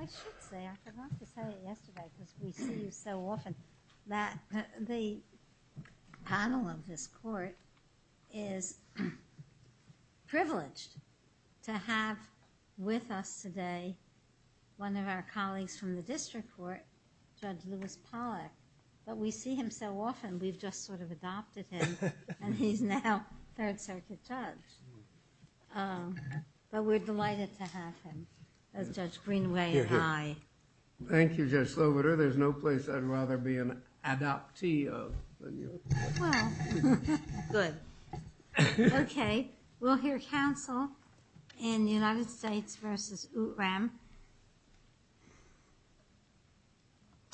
I should say, I forgot to say it yesterday, because we see you so often, that the panel of this court is privileged to have with us today one of our colleagues from the district court, Judge Lewis Pollack, but we see him so often we've just sort of adopted him and he's now third circuit judge. But we're delighted to have him as Judge Greenway and I. Thank you, Judge Sloboda. There's no place I'd rather be an adoptee of than you. Well, good. Okay, we'll hear counsel in the United States v. Outram.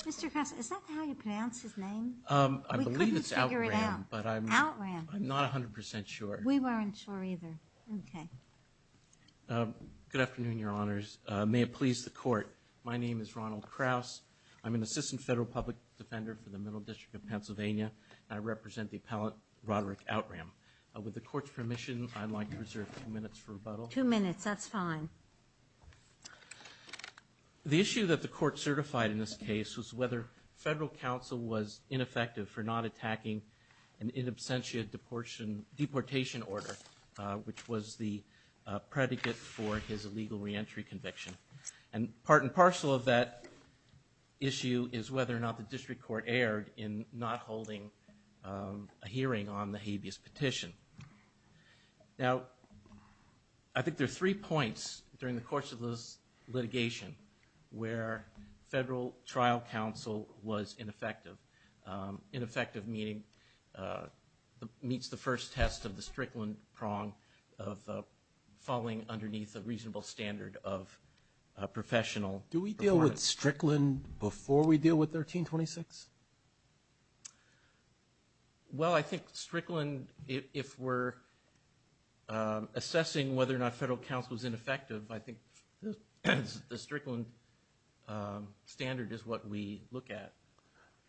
Mr. Kress, is that how you pronounce his name? I believe it's Outram, but I'm not 100% sure. We weren't sure either. Okay. Good afternoon, Your Honors. May it please the court, my name is Ronald Krauss. I'm an assistant federal public defender for the Middle District of Pennsylvania and I represent the appellate Roderick Outram. With the court's permission, I'd like to reserve two minutes for rebuttal. Two minutes, that's fine. The issue that the court certified in this case was whether federal counsel was ineffective for not attacking an in absentia deportation order, which was the predicate for his illegal reentry conviction. And part and parcel of that issue is whether or not the district court erred in not holding a hearing on the habeas petition. Now, I think there are three points during the course of this litigation where federal trial counsel was ineffective. Ineffective meeting meets the first test of the Strickland prong of falling underneath a reasonable standard of professional performance. Do we deal with Strickland before we deal with 1326? Well, I think Strickland, if we're assessing whether or not federal counsel is ineffective, I think the Strickland standard is what we look at.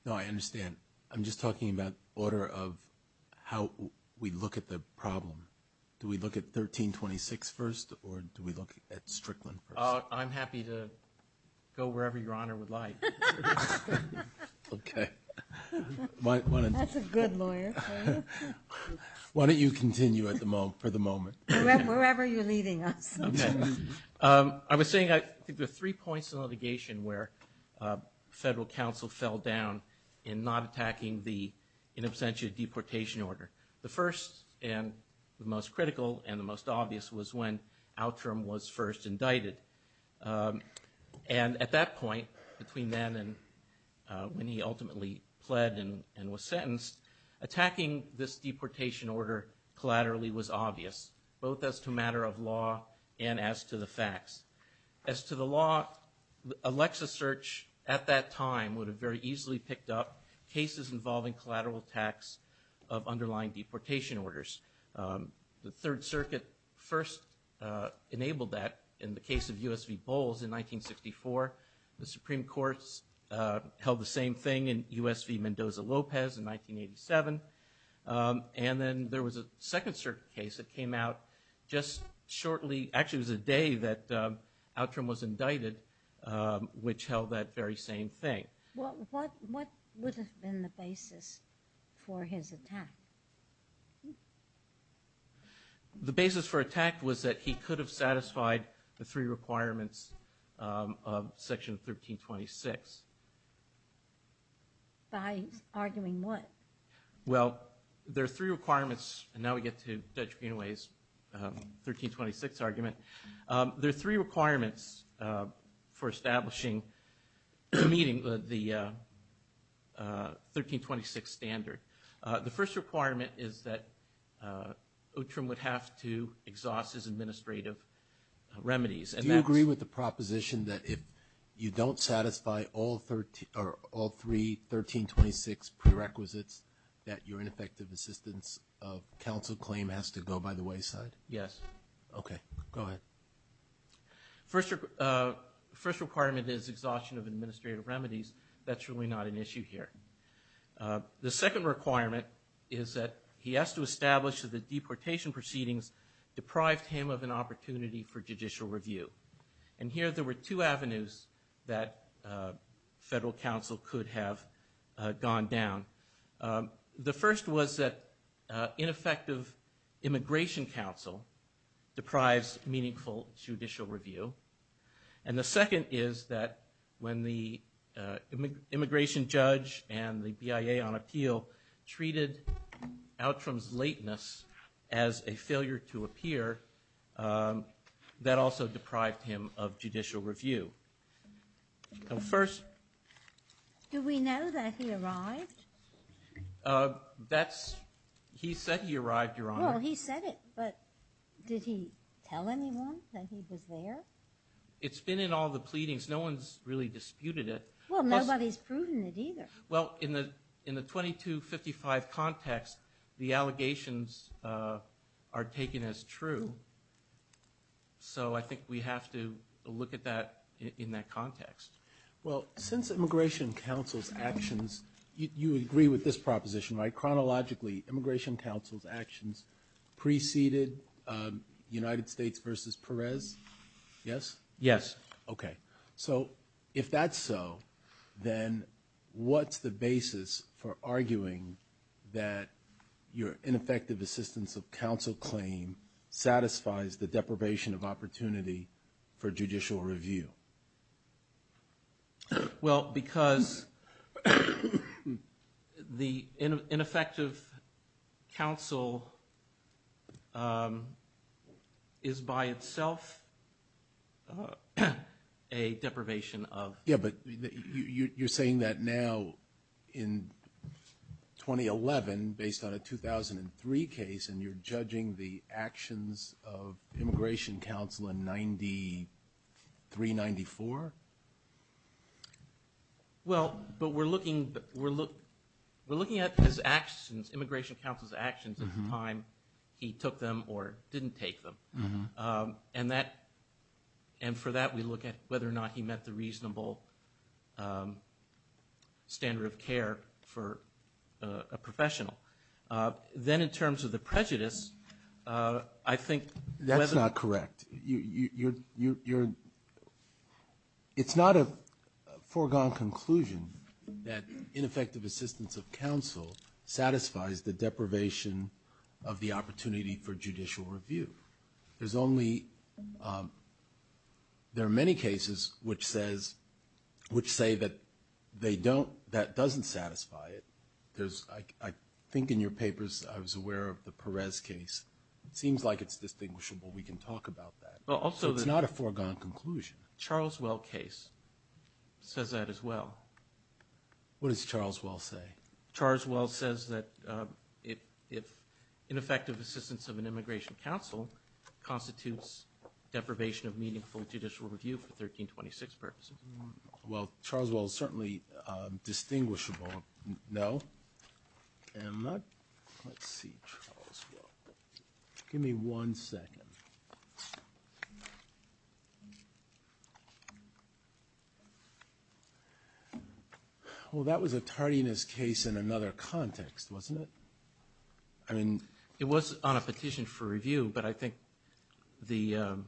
No, I understand. I'm just talking about order of how we look at the problem. Do we look at 1326 first or do we look at Strickland first? I'm happy to go wherever Your Honor would like. Okay. That's a good lawyer. Why don't you continue for the moment. Wherever you're leading us. I was saying I think there are three points in the litigation where federal counsel fell down in not attacking the in absentia deportation order. The first and the most critical and the most obvious was when Outram was first indicted. And at that point, between then and when he ultimately pled and was sentenced, attacking this deportation order collaterally was obvious, both as to a matter of law and as to the facts. As to the law, a Lexis search at that time would have very easily picked up cases involving collateral attacks of underlying deportation orders. The Third Circuit first enabled that in the case of U.S. v. Bowles in 1964. The Supreme Court held the same thing in U.S. v. Mendoza-Lopez in 1987. And then there was a Second Circuit case that came out just shortly. Actually, it was a day that Outram was indicted, which held that very same thing. Well, what would have been the basis for his attack? The basis for attack was that he could have satisfied the three requirements of Section 1326. By arguing what? Well, there are three requirements, and now we get to Judge Penaway's 1326 argument. There are three requirements for establishing the 1326 standard. The first requirement is that Outram would have to exhaust his administrative remedies. Do you agree with the proposition that if you don't satisfy all three 1326 prerequisites, that your ineffective assistance of counsel claim has to go by the wayside? Yes. Okay, go ahead. The first requirement is exhaustion of administrative remedies. That's really not an issue here. The second requirement is that he has to establish that the deportation proceedings deprived him of an opportunity for judicial review. And here there were two avenues that federal counsel could have gone down. The first was that ineffective immigration counsel deprives meaningful judicial review. And the second is that when the immigration judge and the BIA on appeal treated Outram's lateness as a failure to appear, that also deprived him of judicial review. Do we know that he arrived? He said he arrived, Your Honor. Well, he said it, but did he tell anyone that he was there? It's been in all the pleadings. No one's really disputed it. Well, nobody's proven it either. Well, in the 2255 context, the allegations are taken as true. So I think we have to look at that in that context. Well, since immigration counsel's actions, you agree with this proposition, right? Chronologically, immigration counsel's actions preceded United States v. Perez? Yes? Yes. Okay. So if that's so, then what's the basis for arguing that your ineffective assistance of counsel claim satisfies the deprivation of opportunity for judicial review? Well, because the ineffective counsel is by itself a deprivation of. Yeah, but you're saying that now in 2011, based on a 2003 case, and you're judging the actions of immigration counsel in 93-94? Well, but we're looking at immigration counsel's actions at the time he took them or didn't take them, and for that we look at whether or not he met the reasonable standard of care for a professional. Then in terms of the prejudice, I think whether. That's not correct. It's not a foregone conclusion that ineffective assistance of counsel satisfies the deprivation of the opportunity for judicial review. There are many cases which say that that doesn't satisfy it. I think in your papers I was aware of the Perez case. It seems like it's distinguishable. We can talk about that. It's not a foregone conclusion. Charles Well case says that as well. What does Charles Well say? Charles Well says that if ineffective assistance of an immigration counsel constitutes deprivation of meaningful judicial review for 1326 purposes. Well, Charles Well is certainly distinguishable. No? Let's see. Give me one second. Well, that was a tardiness case in another context, wasn't it? I mean. It was on a petition for review, but I think the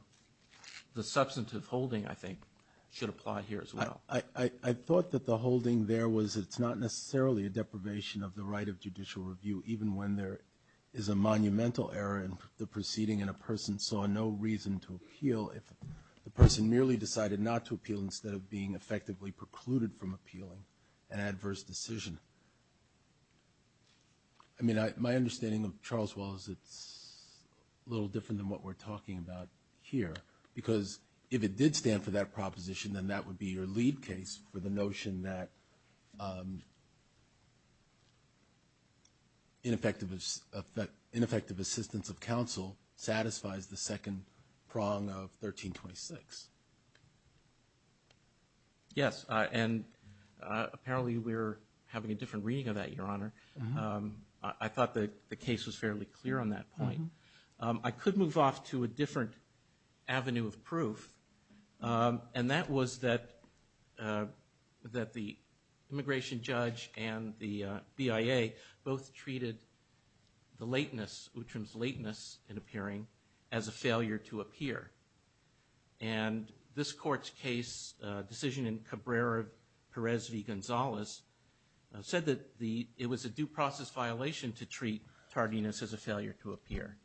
substantive holding, I think, should apply here as well. I thought that the holding there was it's not necessarily a deprivation of the right of judicial review, even when there is a monumental error in the proceeding and a person saw no reason to appeal if the person merely decided not to appeal instead of being effectively precluded from appealing an adverse decision. I mean, my understanding of Charles Well is it's a little different than what we're talking about here, because if it did stand for that proposition, then that would be your lead case for the notion that ineffective assistance of counsel satisfies the second prong of 1326. Yes, and apparently we're having a different reading of that, Your Honor. I thought the case was fairly clear on that point. I could move off to a different avenue of proof, and that was that the immigration judge and the BIA both treated the lateness, Uttram's lateness in appearing, as a failure to appear. And this court's case, decision in Cabrera-Perez v. Gonzalez, said that it was a due process violation to treat tardiness as a failure to appear.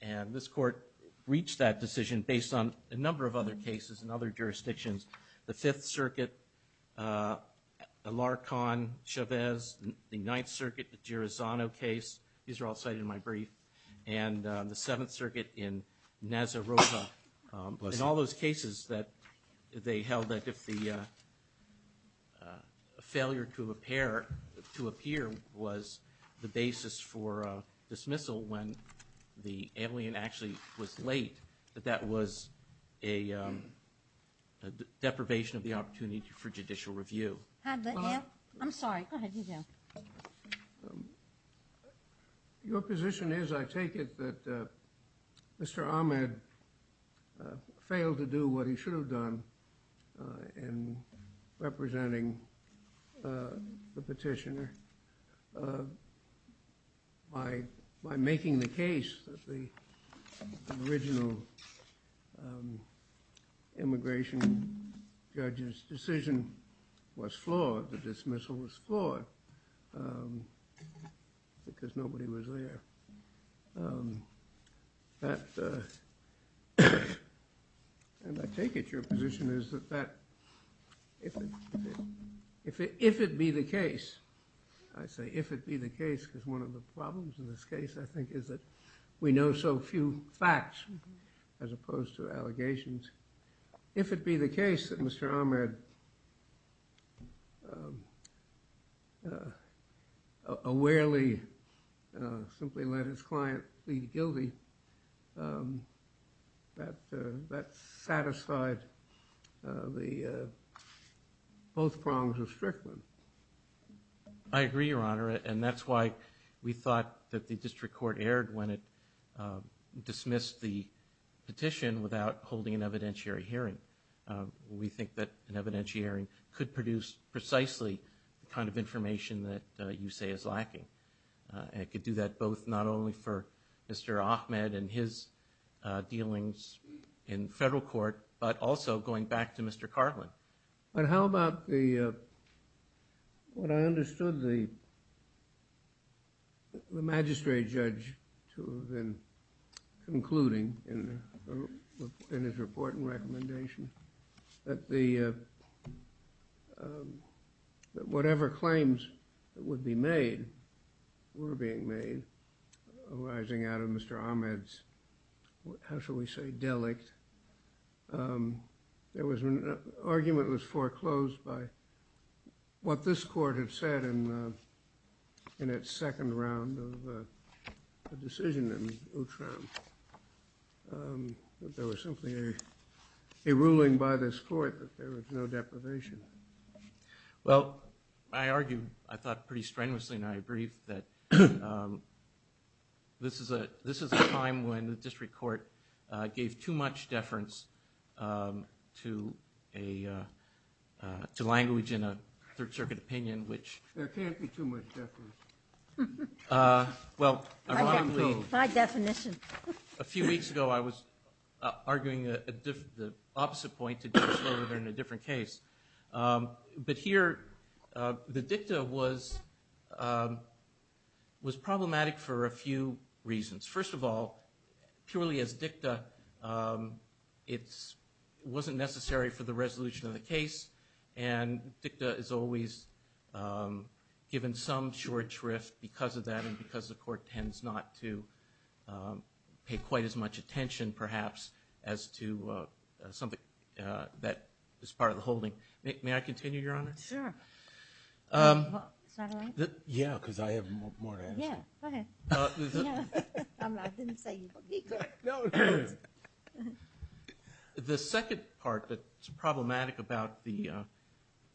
And this court reached that decision based on a number of other cases in other jurisdictions, the Fifth Circuit, Alarcon-Chavez, the Ninth Circuit, the Girozano case. And the Seventh Circuit in Nazarroza. In all those cases, they held that if the failure to appear was the basis for dismissal when the alien actually was late, that that was a deprivation of the opportunity for judicial review. I'm sorry. Go ahead. You go. Your position is, I take it, that Mr. Ahmed failed to do what he should have done in representing the petitioner by making the case that the original immigration judge's decision was flawed, that dismissal was flawed, because nobody was there. And I take it your position is that if it be the case, I say if it be the case, because one of the problems in this case, I think, is that we know so few facts as opposed to allegations. If it be the case that Mr. Ahmed awarely simply let his client plead guilty, that satisfied both prongs of Strickland. I agree, Your Honor, and that's why we thought that the district court erred when it dismissed the petition without holding an evidentiary hearing. We think that an evidentiary hearing could produce precisely the kind of information that you say is lacking. And it could do that both not only for Mr. Ahmed and his dealings in federal court, but also going back to Mr. Carlin. But how about what I understood the magistrate judge to have been concluding in his report and recommendation, that whatever claims would be made were being made arising out of Mr. Ahmed's, how shall we say, delict. There was an argument that was foreclosed by what this court had said in its second round of decision in Ultron. There was simply a ruling by this court that there was no deprivation. Well, I argue, I thought pretty strenuously and I agree, that this is a time when the district court gave too much deference to language in a Third Circuit opinion, which... There can't be too much deference. Well, ironically... My definition. A few weeks ago I was arguing the opposite point to Judge Slover in a different case. But here the dicta was problematic for a few reasons. First of all, purely as dicta, it wasn't necessary for the resolution of the case. And dicta is always given some short shrift because of that and because the court tends not to pay quite as much attention, perhaps, as to something that is part of the holding. May I continue, Your Honor? Sure. Is that all right? Yeah, because I have more to add. Yeah, go ahead. The second part that's problematic about the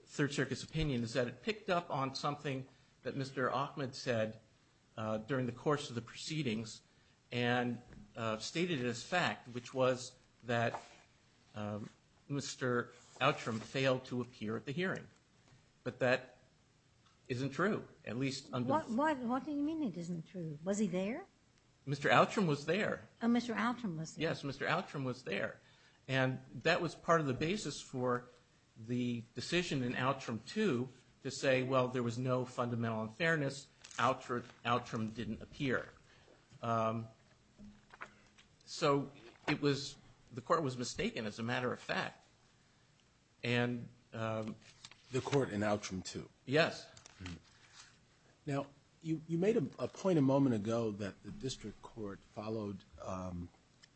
Third Circuit's opinion is that it picked up on something that Mr. Ahmed said during the course of the proceedings and stated it as fact, which was that Mr. Outram failed to appear at the hearing. But that isn't true, at least... What do you mean it isn't true? Was he there? Mr. Outram was there. Oh, Mr. Outram was there. Yes, Mr. Outram was there. And that was part of the basis for the decision in Outram 2 to say, well, there was no fundamental unfairness. Outram didn't appear. So it was the court was mistaken, as a matter of fact. The court in Outram 2? Yes. Now, you made a point a moment ago that the district court followed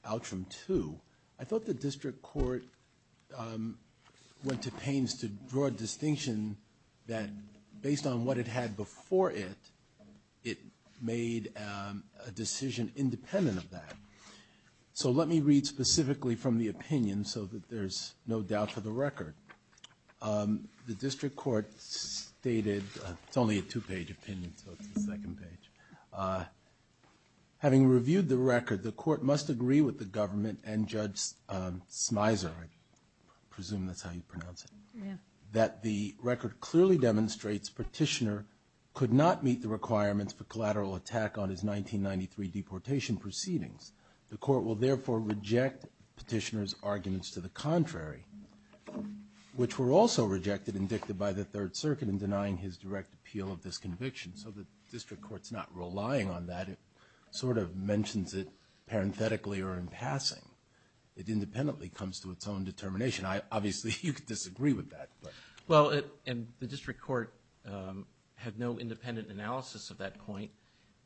Outram 2. I thought the district court went to pains to draw a distinction that based on what it had before it, it made a decision independent of that. So let me read specifically from the opinion so that there's no doubt for the record. The district court stated, it's only a two-page opinion, so it's the second page. Having reviewed the record, the court must agree with the government and Judge Smyser, I presume that's how you pronounce it, that the record clearly demonstrates Petitioner could not meet the requirements for collateral attack on his 1993 deportation proceedings. The court will therefore reject Petitioner's arguments to the contrary, which were also rejected and dictated by the Third Circuit in denying his direct appeal of this conviction. So the district court's not relying on that. It sort of mentions it parenthetically or in passing. It independently comes to its own determination. Obviously, you could disagree with that. Well, and the district court had no independent analysis of that point,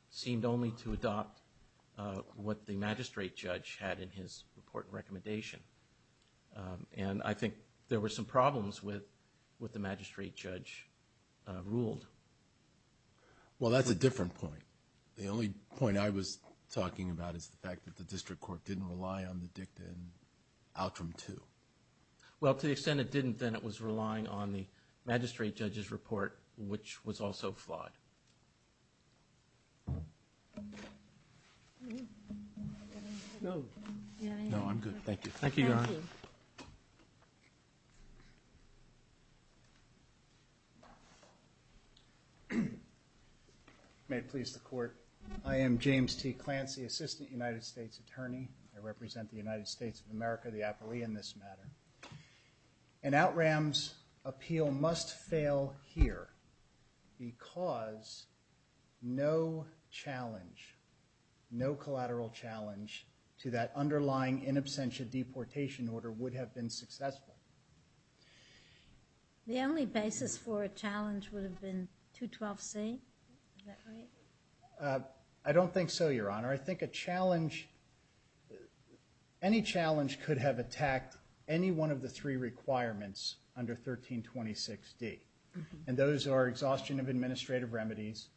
seemed only to adopt what the magistrate judge had in his report and recommendation. And I think there were some problems with what the magistrate judge ruled. Well, that's a different point. The only point I was talking about is the fact that the district court didn't rely on the dicta in Outram 2. Well, to the extent it didn't, then it was relying on the magistrate judge's report, which was also flawed. No, I'm good. Thank you. Thank you, Your Honor. May it please the court. I am James T. Clancy, Assistant United States Attorney. I represent the United States of America, the appellee in this matter. And Outram's appeal must fail here because no challenge, no collateral challenge to that underlying in absentia deportation order would have been successful. The only basis for a challenge would have been 212C? Is that right? I don't think so, Your Honor. I think any challenge could have attacked any one of the three requirements under 1326D. And those are exhaustion of administrative remedies,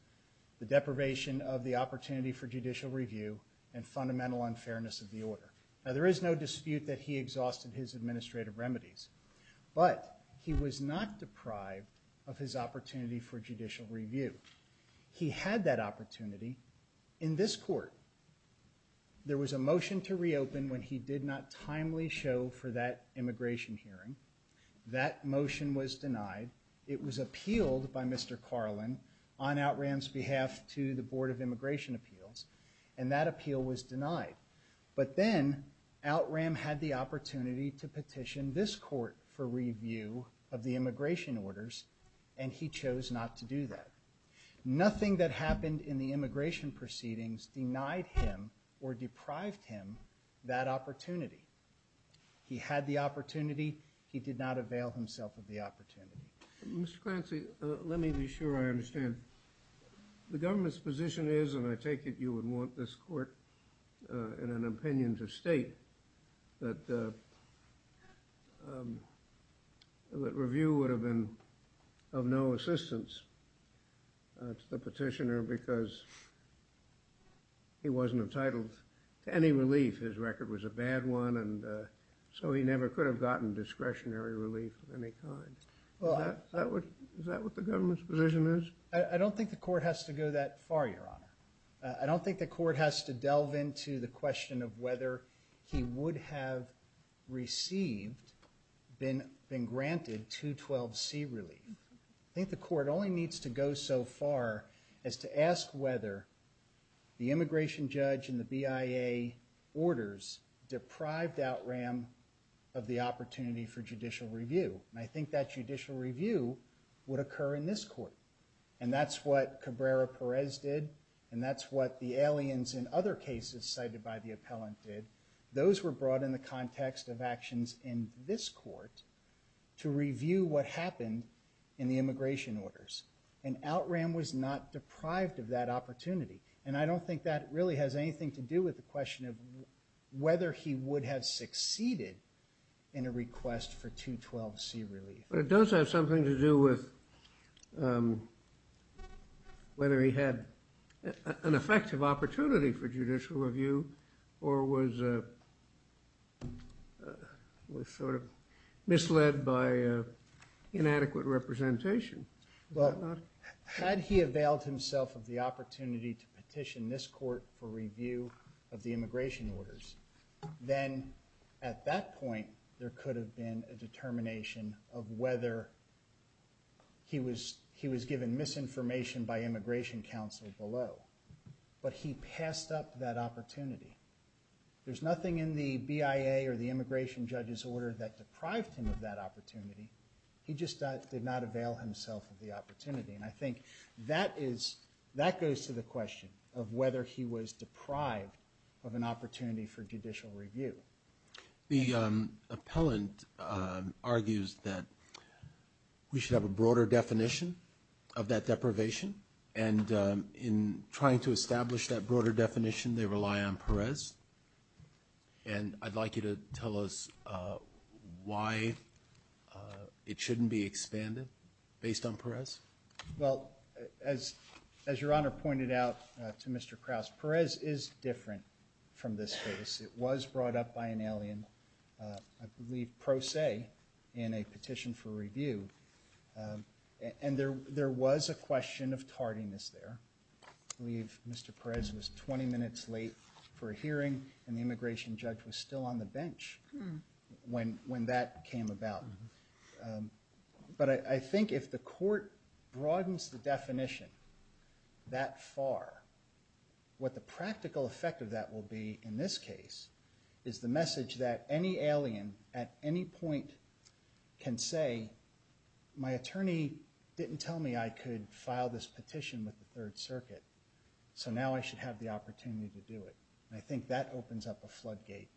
the deprivation of the opportunity for judicial review, and fundamental unfairness of the order. Now, there is no dispute that he exhausted his administrative remedies, but he was not deprived of his opportunity for judicial review. He had that opportunity. In this court, there was a motion to reopen when he did not timely show for that immigration hearing. That motion was denied. It was appealed by Mr. Carlin on Outram's behalf to the Board of Immigration Appeals, and that appeal was denied. But then Outram had the opportunity to petition this court for review of the immigration orders, and he chose not to do that. Nothing that happened in the immigration proceedings denied him or deprived him that opportunity. He had the opportunity. He did not avail himself of the opportunity. Mr. Clancy, let me be sure I understand. The government's position is, and I take it you would want this court in an opinion to state, that review would have been of no assistance to the petitioner because he wasn't entitled to any relief. His record was a bad one, and so he never could have gotten discretionary relief of any kind. Is that what the government's position is? I don't think the court has to go that far, Your Honor. I don't think the court has to delve into the question of whether he would have received, been granted, 212C relief. I think the court only needs to go so far as to ask whether the immigration judge and the BIA orders deprived Outram of the opportunity for judicial review, and I think that judicial review would occur in this court, and that's what Cabrera-Perez did, and that's what the aliens in other cases cited by the appellant did. Those were brought in the context of actions in this court to review what happened in the immigration orders, and Outram was not deprived of that opportunity, and I don't think that really has anything to do with the question of whether he would have succeeded in a request for 212C relief. But it does have something to do with whether he had an effective opportunity for judicial review or was sort of misled by inadequate representation. Had he availed himself of the opportunity to petition this court for review of the immigration orders, then at that point there could have been a determination of whether he was given misinformation by immigration counsel below, but he passed up that opportunity. There's nothing in the BIA or the immigration judge's order that deprived him of that opportunity. He just did not avail himself of the opportunity, of an opportunity for judicial review. The appellant argues that we should have a broader definition of that deprivation, and in trying to establish that broader definition they rely on Perez, and I'd like you to tell us why it shouldn't be expanded based on Perez. Well, as Your Honor pointed out to Mr. Krause, Perez is different from this case. It was brought up by an alien, I believe pro se, in a petition for review, and there was a question of tardiness there. I believe Mr. Perez was 20 minutes late for a hearing, and the immigration judge was still on the bench when that came about. But I think if the court broadens the definition that far, what the practical effect of that will be in this case is the message that any alien at any point can say, my attorney didn't tell me I could file this petition with the Third Circuit, so now I should have the opportunity to do it. I think that opens up a floodgate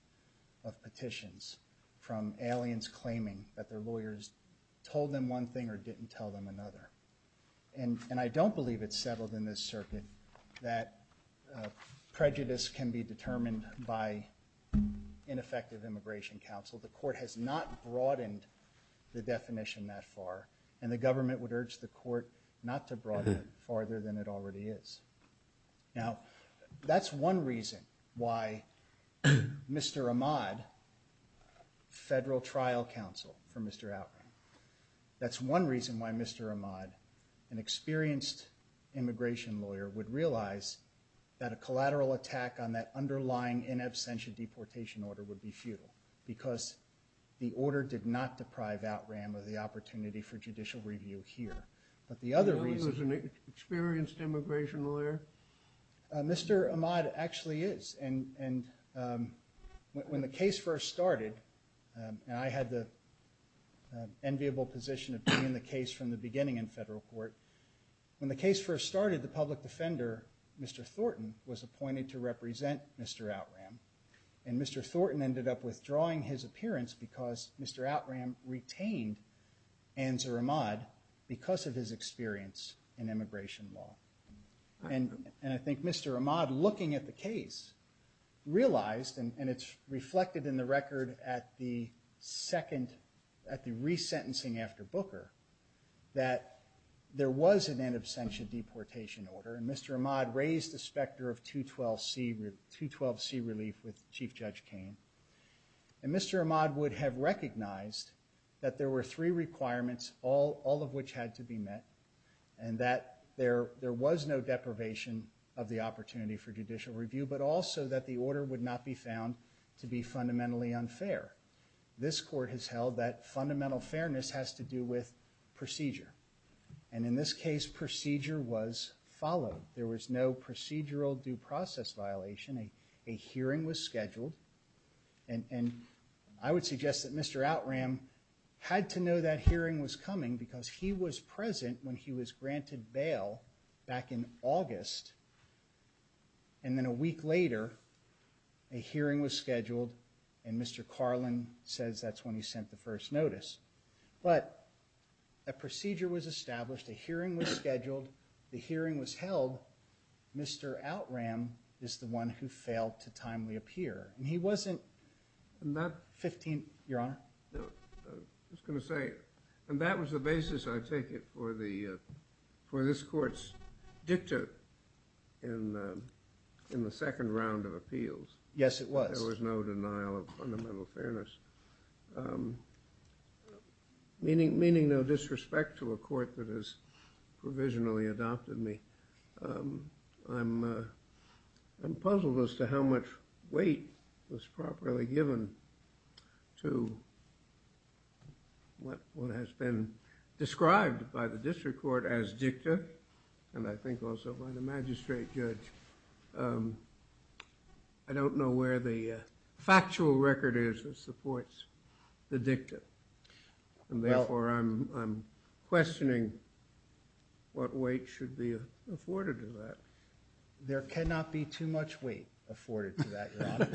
of petitions from aliens claiming that their lawyers told them one thing or didn't tell them another. And I don't believe it's settled in this circuit that prejudice can be determined by ineffective immigration counsel. The court has not broadened the definition that far, and the government would urge the court not to broaden it farther than it already is. Now, that's one reason why Mr. Ahmad, federal trial counsel for Mr. Outram, that's one reason why Mr. Ahmad, an experienced immigration lawyer, would realize that a collateral attack on that underlying in absentia deportation order would be futile, because the order did not deprive Outram of the opportunity for judicial review here. But the other reason... You know he was an experienced immigration lawyer? Mr. Ahmad actually is. And when the case first started, and I had the enviable position of being in the case from the beginning in federal court, when the case first started, the public defender, Mr. Thornton, was appointed to represent Mr. Outram. And Mr. Thornton ended up withdrawing his appearance because Mr. Outram retained Anzar Ahmad because of his experience in immigration law. And I think Mr. Ahmad, looking at the case, realized, and it's reflected in the record at the second, at the resentencing after Booker, that there was an in absentia deportation order, and Mr. Ahmad raised the specter of 212C relief with Chief Judge Cain. And Mr. Ahmad would have recognized that there were three requirements, all of which had to be met, and that there was no deprivation of the opportunity for judicial review, but also that the order would not be found to be fundamentally unfair. This court has held that fundamental fairness has to do with procedure. And in this case, procedure was followed. There was no procedural due process violation. A hearing was scheduled. And I would suggest that Mr. Outram had to know that hearing was coming because he was present when he was granted bail back in August. And then a week later, a hearing was scheduled, and Mr. Carlin says that's when he sent the first notice. But a procedure was established, a hearing was scheduled, the hearing was held. Mr. Outram is the one who failed to timely appear. And he wasn't 15th, Your Honor? I was going to say, and that was the basis, I take it, for this court's dicta in the second round of appeals. Yes, it was. There was no denial of fundamental fairness, meaning no disrespect to a court that has provisionally adopted me. I'm puzzled as to how much weight was properly given to what has been described by the district court as dicta, and I think also by the magistrate judge. I don't know where the factual record is that supports the dicta, and therefore I'm questioning what weight should be afforded to that. There cannot be too much weight afforded to that, Your Honor,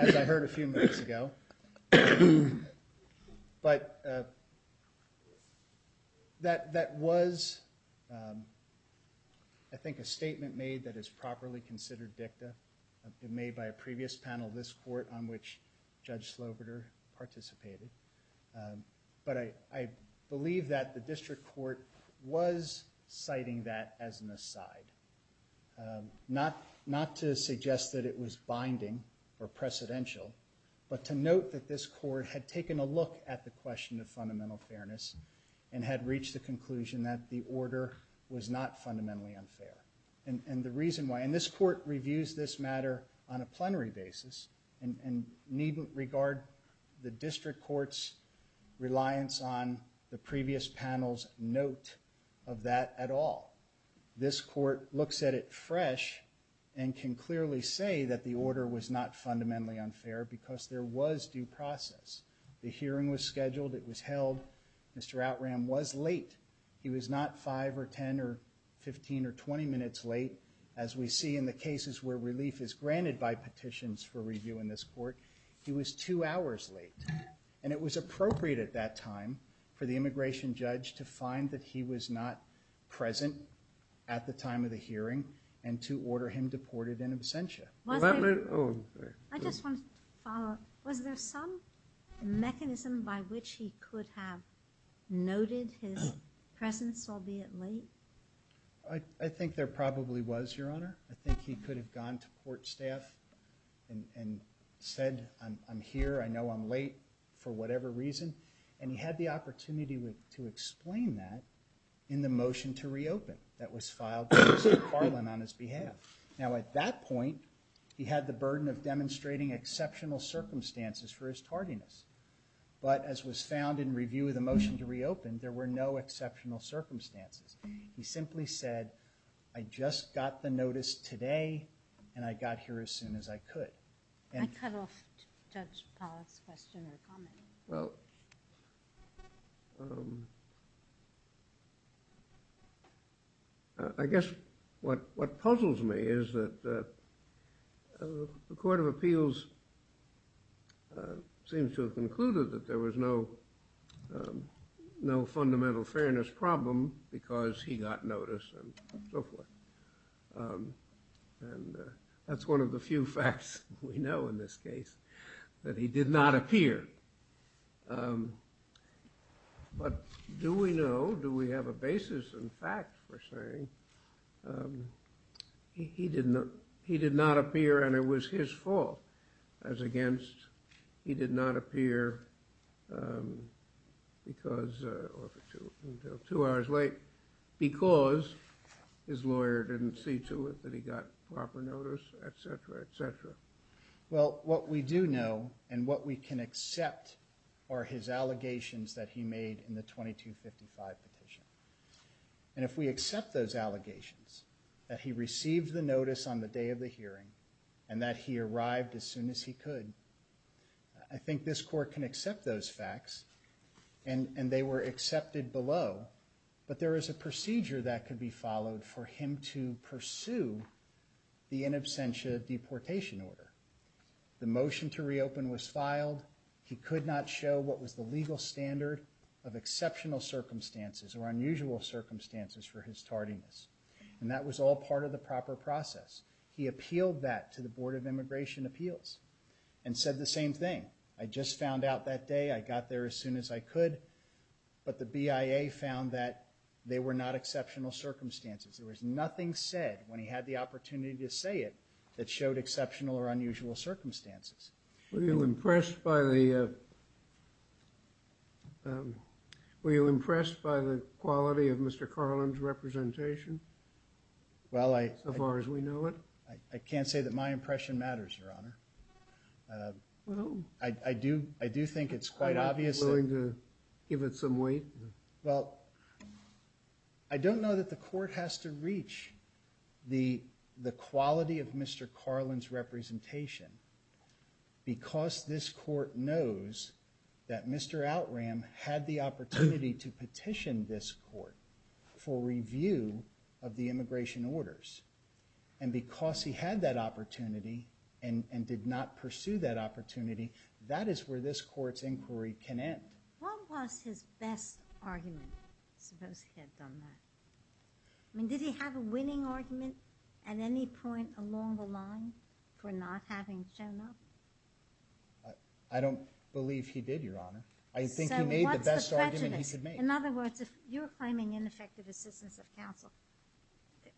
as I heard a few minutes ago. But that was, I think, a statement made that is properly considered dicta, made by a previous panel of this court on which Judge Slobodur participated. But I believe that the district court was citing that as an aside, not to suggest that it was binding or precedential, but to note that this court had taken a look at the question of fundamental fairness and had reached the conclusion that the order was not fundamentally unfair. And the reason why, and this court reviews this matter on a plenary basis and needn't regard the district court's reliance on the previous panel's note of that at all. This court looks at it fresh and can clearly say that the order was not unfair because there was due process. The hearing was scheduled. It was held. Mr. Outram was late. He was not 5 or 10 or 15 or 20 minutes late, as we see in the cases where relief is granted by petitions for review in this court. He was two hours late. And it was appropriate at that time for the immigration judge to find that he was not present at the time of the hearing and to order him deported in absentia. I just want to follow up. Was there some mechanism by which he could have noted his presence, albeit late? I think there probably was, Your Honor. I think he could have gone to court staff and said, I'm here. I know I'm late for whatever reason. And he had the opportunity to explain that in the motion to reopen that was filed on his behalf. Now, at that point, he had the burden of demonstrating exceptional circumstances for his tardiness. But as was found in review of the motion to reopen, there were no exceptional circumstances. He simply said, I just got the notice today and I got here as soon as I could. I cut off Judge Pollack's question or comment. Well, I guess what puzzles me is that the Court of Appeals seems to have concluded that there was no fundamental fairness problem because he got notice and so forth. And that's one of the few facts we know in this case, that he did not appear. But do we know, do we have a basis in fact for saying he did not appear and it was his fault as against he did not appear because, or until two hours late, because his lawyer didn't see to it that he got proper notice, et cetera, et cetera. Well, what we do know and what we can accept are his allegations that he made in the 2255 petition. And if we accept those allegations, that he received the notice on the day of the hearing and that he arrived as soon as he could, I think this court can accept those facts and they were accepted below, but there is a procedure that could be followed for him to pursue the order. The motion to reopen was filed. He could not show what was the legal standard of exceptional circumstances or unusual circumstances for his tardiness. And that was all part of the proper process. He appealed that to the Board of Immigration Appeals and said the same thing. I just found out that day. I got there as soon as I could, but the BIA found that they were not exceptional circumstances. There was nothing said when he had the opportunity to say it that showed exceptional or unusual circumstances. Were you impressed by the quality of Mr. Carlin's representation? As far as we know it? I can't say that my impression matters, Your Honor. I do think it's quite obvious. Are you willing to give it some weight? Well, I don't know that the court has to reach the quality of Mr. Carlin's representation because this court knows that Mr. Outram had the opportunity to petition this court for review of the immigration orders. And because he had that opportunity and did not pursue that opportunity, that is where this court's inquiry can end. What was his best argument? I suppose he had done that. Did he have a winning argument at any point along the line for not having shown up? I don't believe he did, Your Honor. I think he made the best argument he could make. In other words, if you're claiming ineffective assistance of counsel,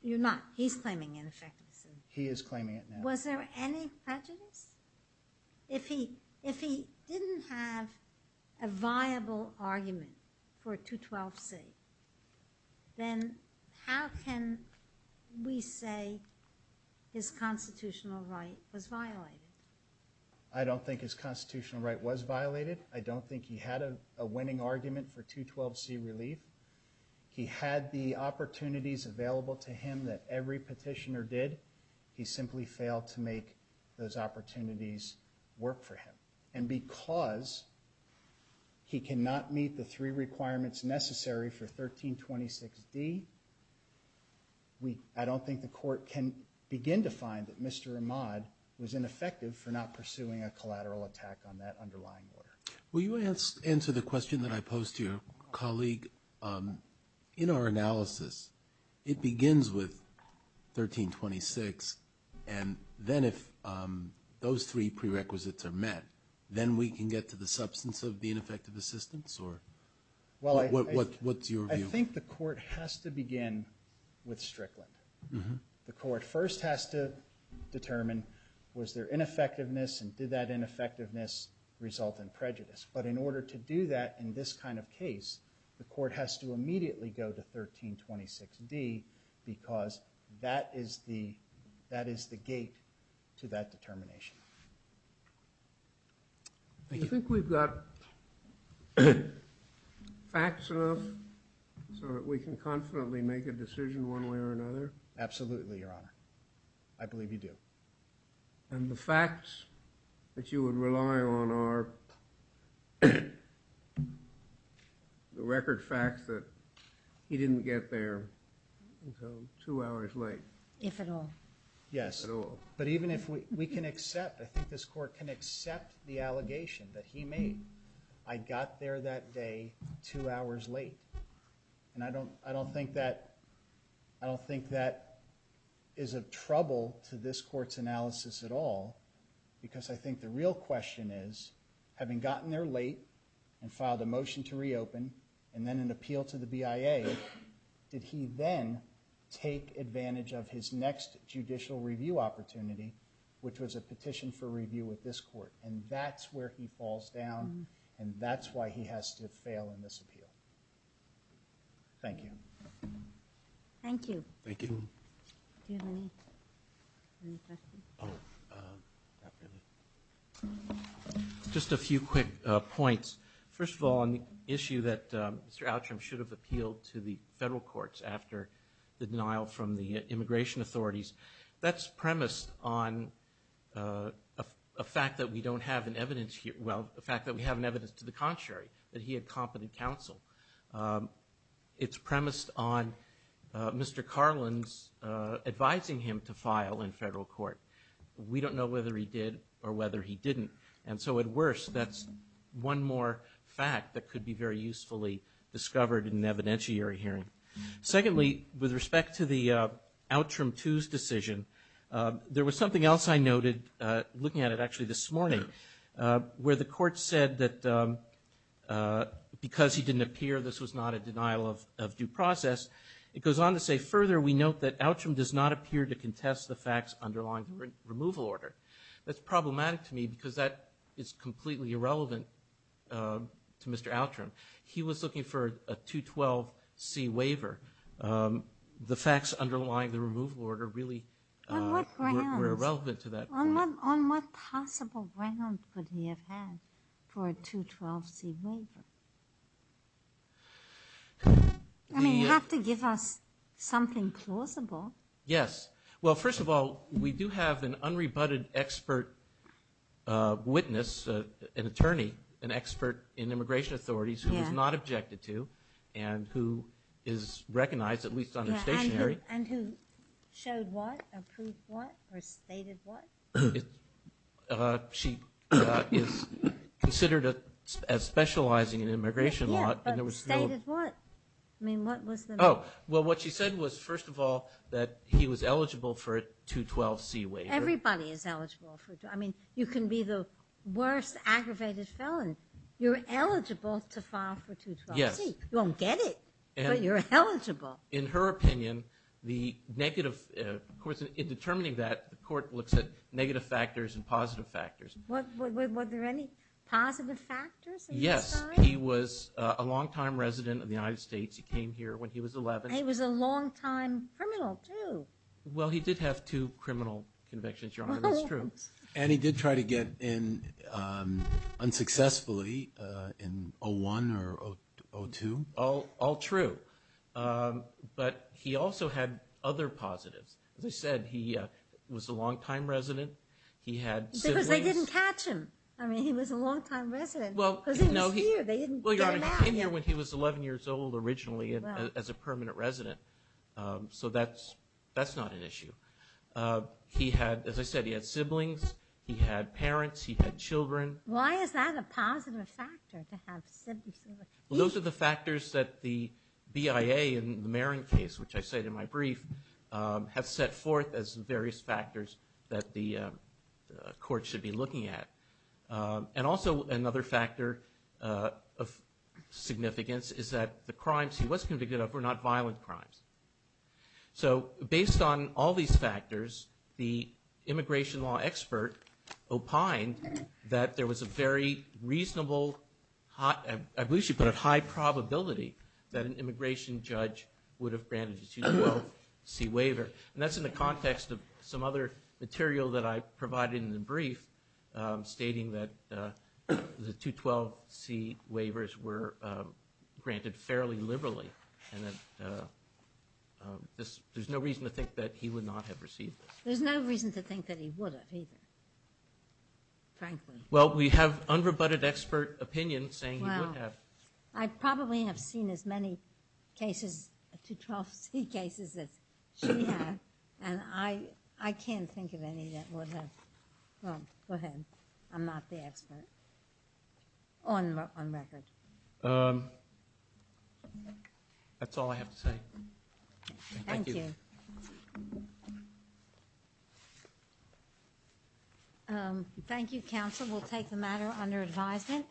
you're not. He's claiming ineffective assistance. He is claiming it now. Was there any prejudice? If he didn't have a viable argument for 212C, then how can we say his constitutional right was violated? I don't think his constitutional right was violated. I don't think he had a winning argument for 212C relief. He had the opportunities available to him that every petitioner did. He simply failed to make those opportunities work for him. And because he cannot meet the three requirements necessary for 1326D, I don't think the court can begin to find that Mr. Ahmad was ineffective for not pursuing a collateral attack on that underlying order. Will you answer the question that I posed to your colleague? In our analysis, it begins with 1326, and then if those three prerequisites are met, then we can get to the substance of the ineffective assistance? What's your view? I think the court has to begin with Strickland. The court first has to determine was there ineffectiveness and did that ineffectiveness result in prejudice? But in order to do that in this kind of case, the court has to immediately go to 1326D because that is the gate to that determination. Do you think we've got facts enough so that we can confidently make a decision one way or another? Absolutely, Your Honor. I believe you do. And the facts that you would rely on are the record facts that he didn't get there until two hours late. If at all. Yes. If at all. But even if we can accept, I think this court can accept the allegation that he made, I got there that day two hours late. And I don't think that is of trouble to this court's analysis at all because I think the real question is, having gotten there late and filed a motion to reopen and then an appeal to the BIA, did he then take advantage of his next judicial review opportunity, which was a petition for review with this court? And that's where he falls down and that's why he has to fail in this appeal. Thank you. Thank you. Thank you. Do you have any questions? Oh, not really. Just a few quick points. First of all, on the issue that Mr. Outram should have appealed to the federal courts after the denial from the immigration authorities, that's premised on a fact that we don't have an evidence here. Well, the fact that we have an evidence to the contrary, that he had competent counsel. It's premised on Mr. Carlin's advising him to file in federal court. We don't know whether he did or whether he didn't, and so at worst that's one more fact that could be very usefully discovered in an evidentiary hearing. Secondly, with respect to the Outram II's decision, there was something else I noted, looking at it actually this morning, where the court said that because he didn't appear, this was not a denial of due process. It goes on to say, further we note that Outram does not appear to contest the facts underlying the removal order. That's problematic to me because that is completely irrelevant to Mr. Outram. He was looking for a 212C waiver. The facts underlying the removal order really were irrelevant to that point. On what possible ground could he have had for a 212C waiver? I mean, you have to give us something plausible. Yes. Well, first of all, we do have an unrebutted expert witness, an attorney, an expert in immigration authorities who was not objected to and who is recognized, at least on the stationery. And who showed what, approved what, or stated what? She is considered as specializing in immigration law. Yeah, but stated what? I mean, what was the matter? Well, what she said was, first of all, that he was eligible for a 212C waiver. Everybody is eligible for it. I mean, you can be the worst aggravated felon. You're eligible to file for 212C. Yes. You won't get it, but you're eligible. In her opinion, the negative, of course, in determining that, the court looks at negative factors and positive factors. Were there any positive factors on his side? Yes. He was a longtime resident of the United States. He came here when he was 11. And he was a longtime criminal, too. Well, he did have two criminal convictions, Your Honor. That's true. And he did try to get in unsuccessfully in 01 or 02. All true. But he also had other positives. As I said, he was a longtime resident. He had siblings. Because they didn't catch him. I mean, he was a longtime resident. Because he was here. They didn't get him out here. Well, Your Honor, he came here when he was 11 years old, originally, as a permanent resident. So that's not an issue. He had, as I said, he had siblings. He had parents. He had children. Why is that a positive factor, to have siblings? Well, those are the factors that the BIA in the Marin case, which I said in my brief, have set forth as various factors that the court should be looking at. And also another factor of significance is that the crimes he was convicted of were not violent crimes. So based on all these factors, the immigration law expert opined that there was a very reasonable, I believe she put it, high probability that an immigration judge would have granted a 212C waiver. And that's in the context of some other material that I provided in the brief, stating that the 212C waivers were granted fairly liberally. And there's no reason to think that he would not have received this. There's no reason to think that he would have either, frankly. Well, we have unrebutted expert opinion saying he would have. I probably have seen as many cases, 212C cases, as she has. And I can't think of any that would have. Well, go ahead. I'm not the expert on record. That's all I have to say. Thank you. Thank you. Thank you, counsel. We'll take the matter under advisement.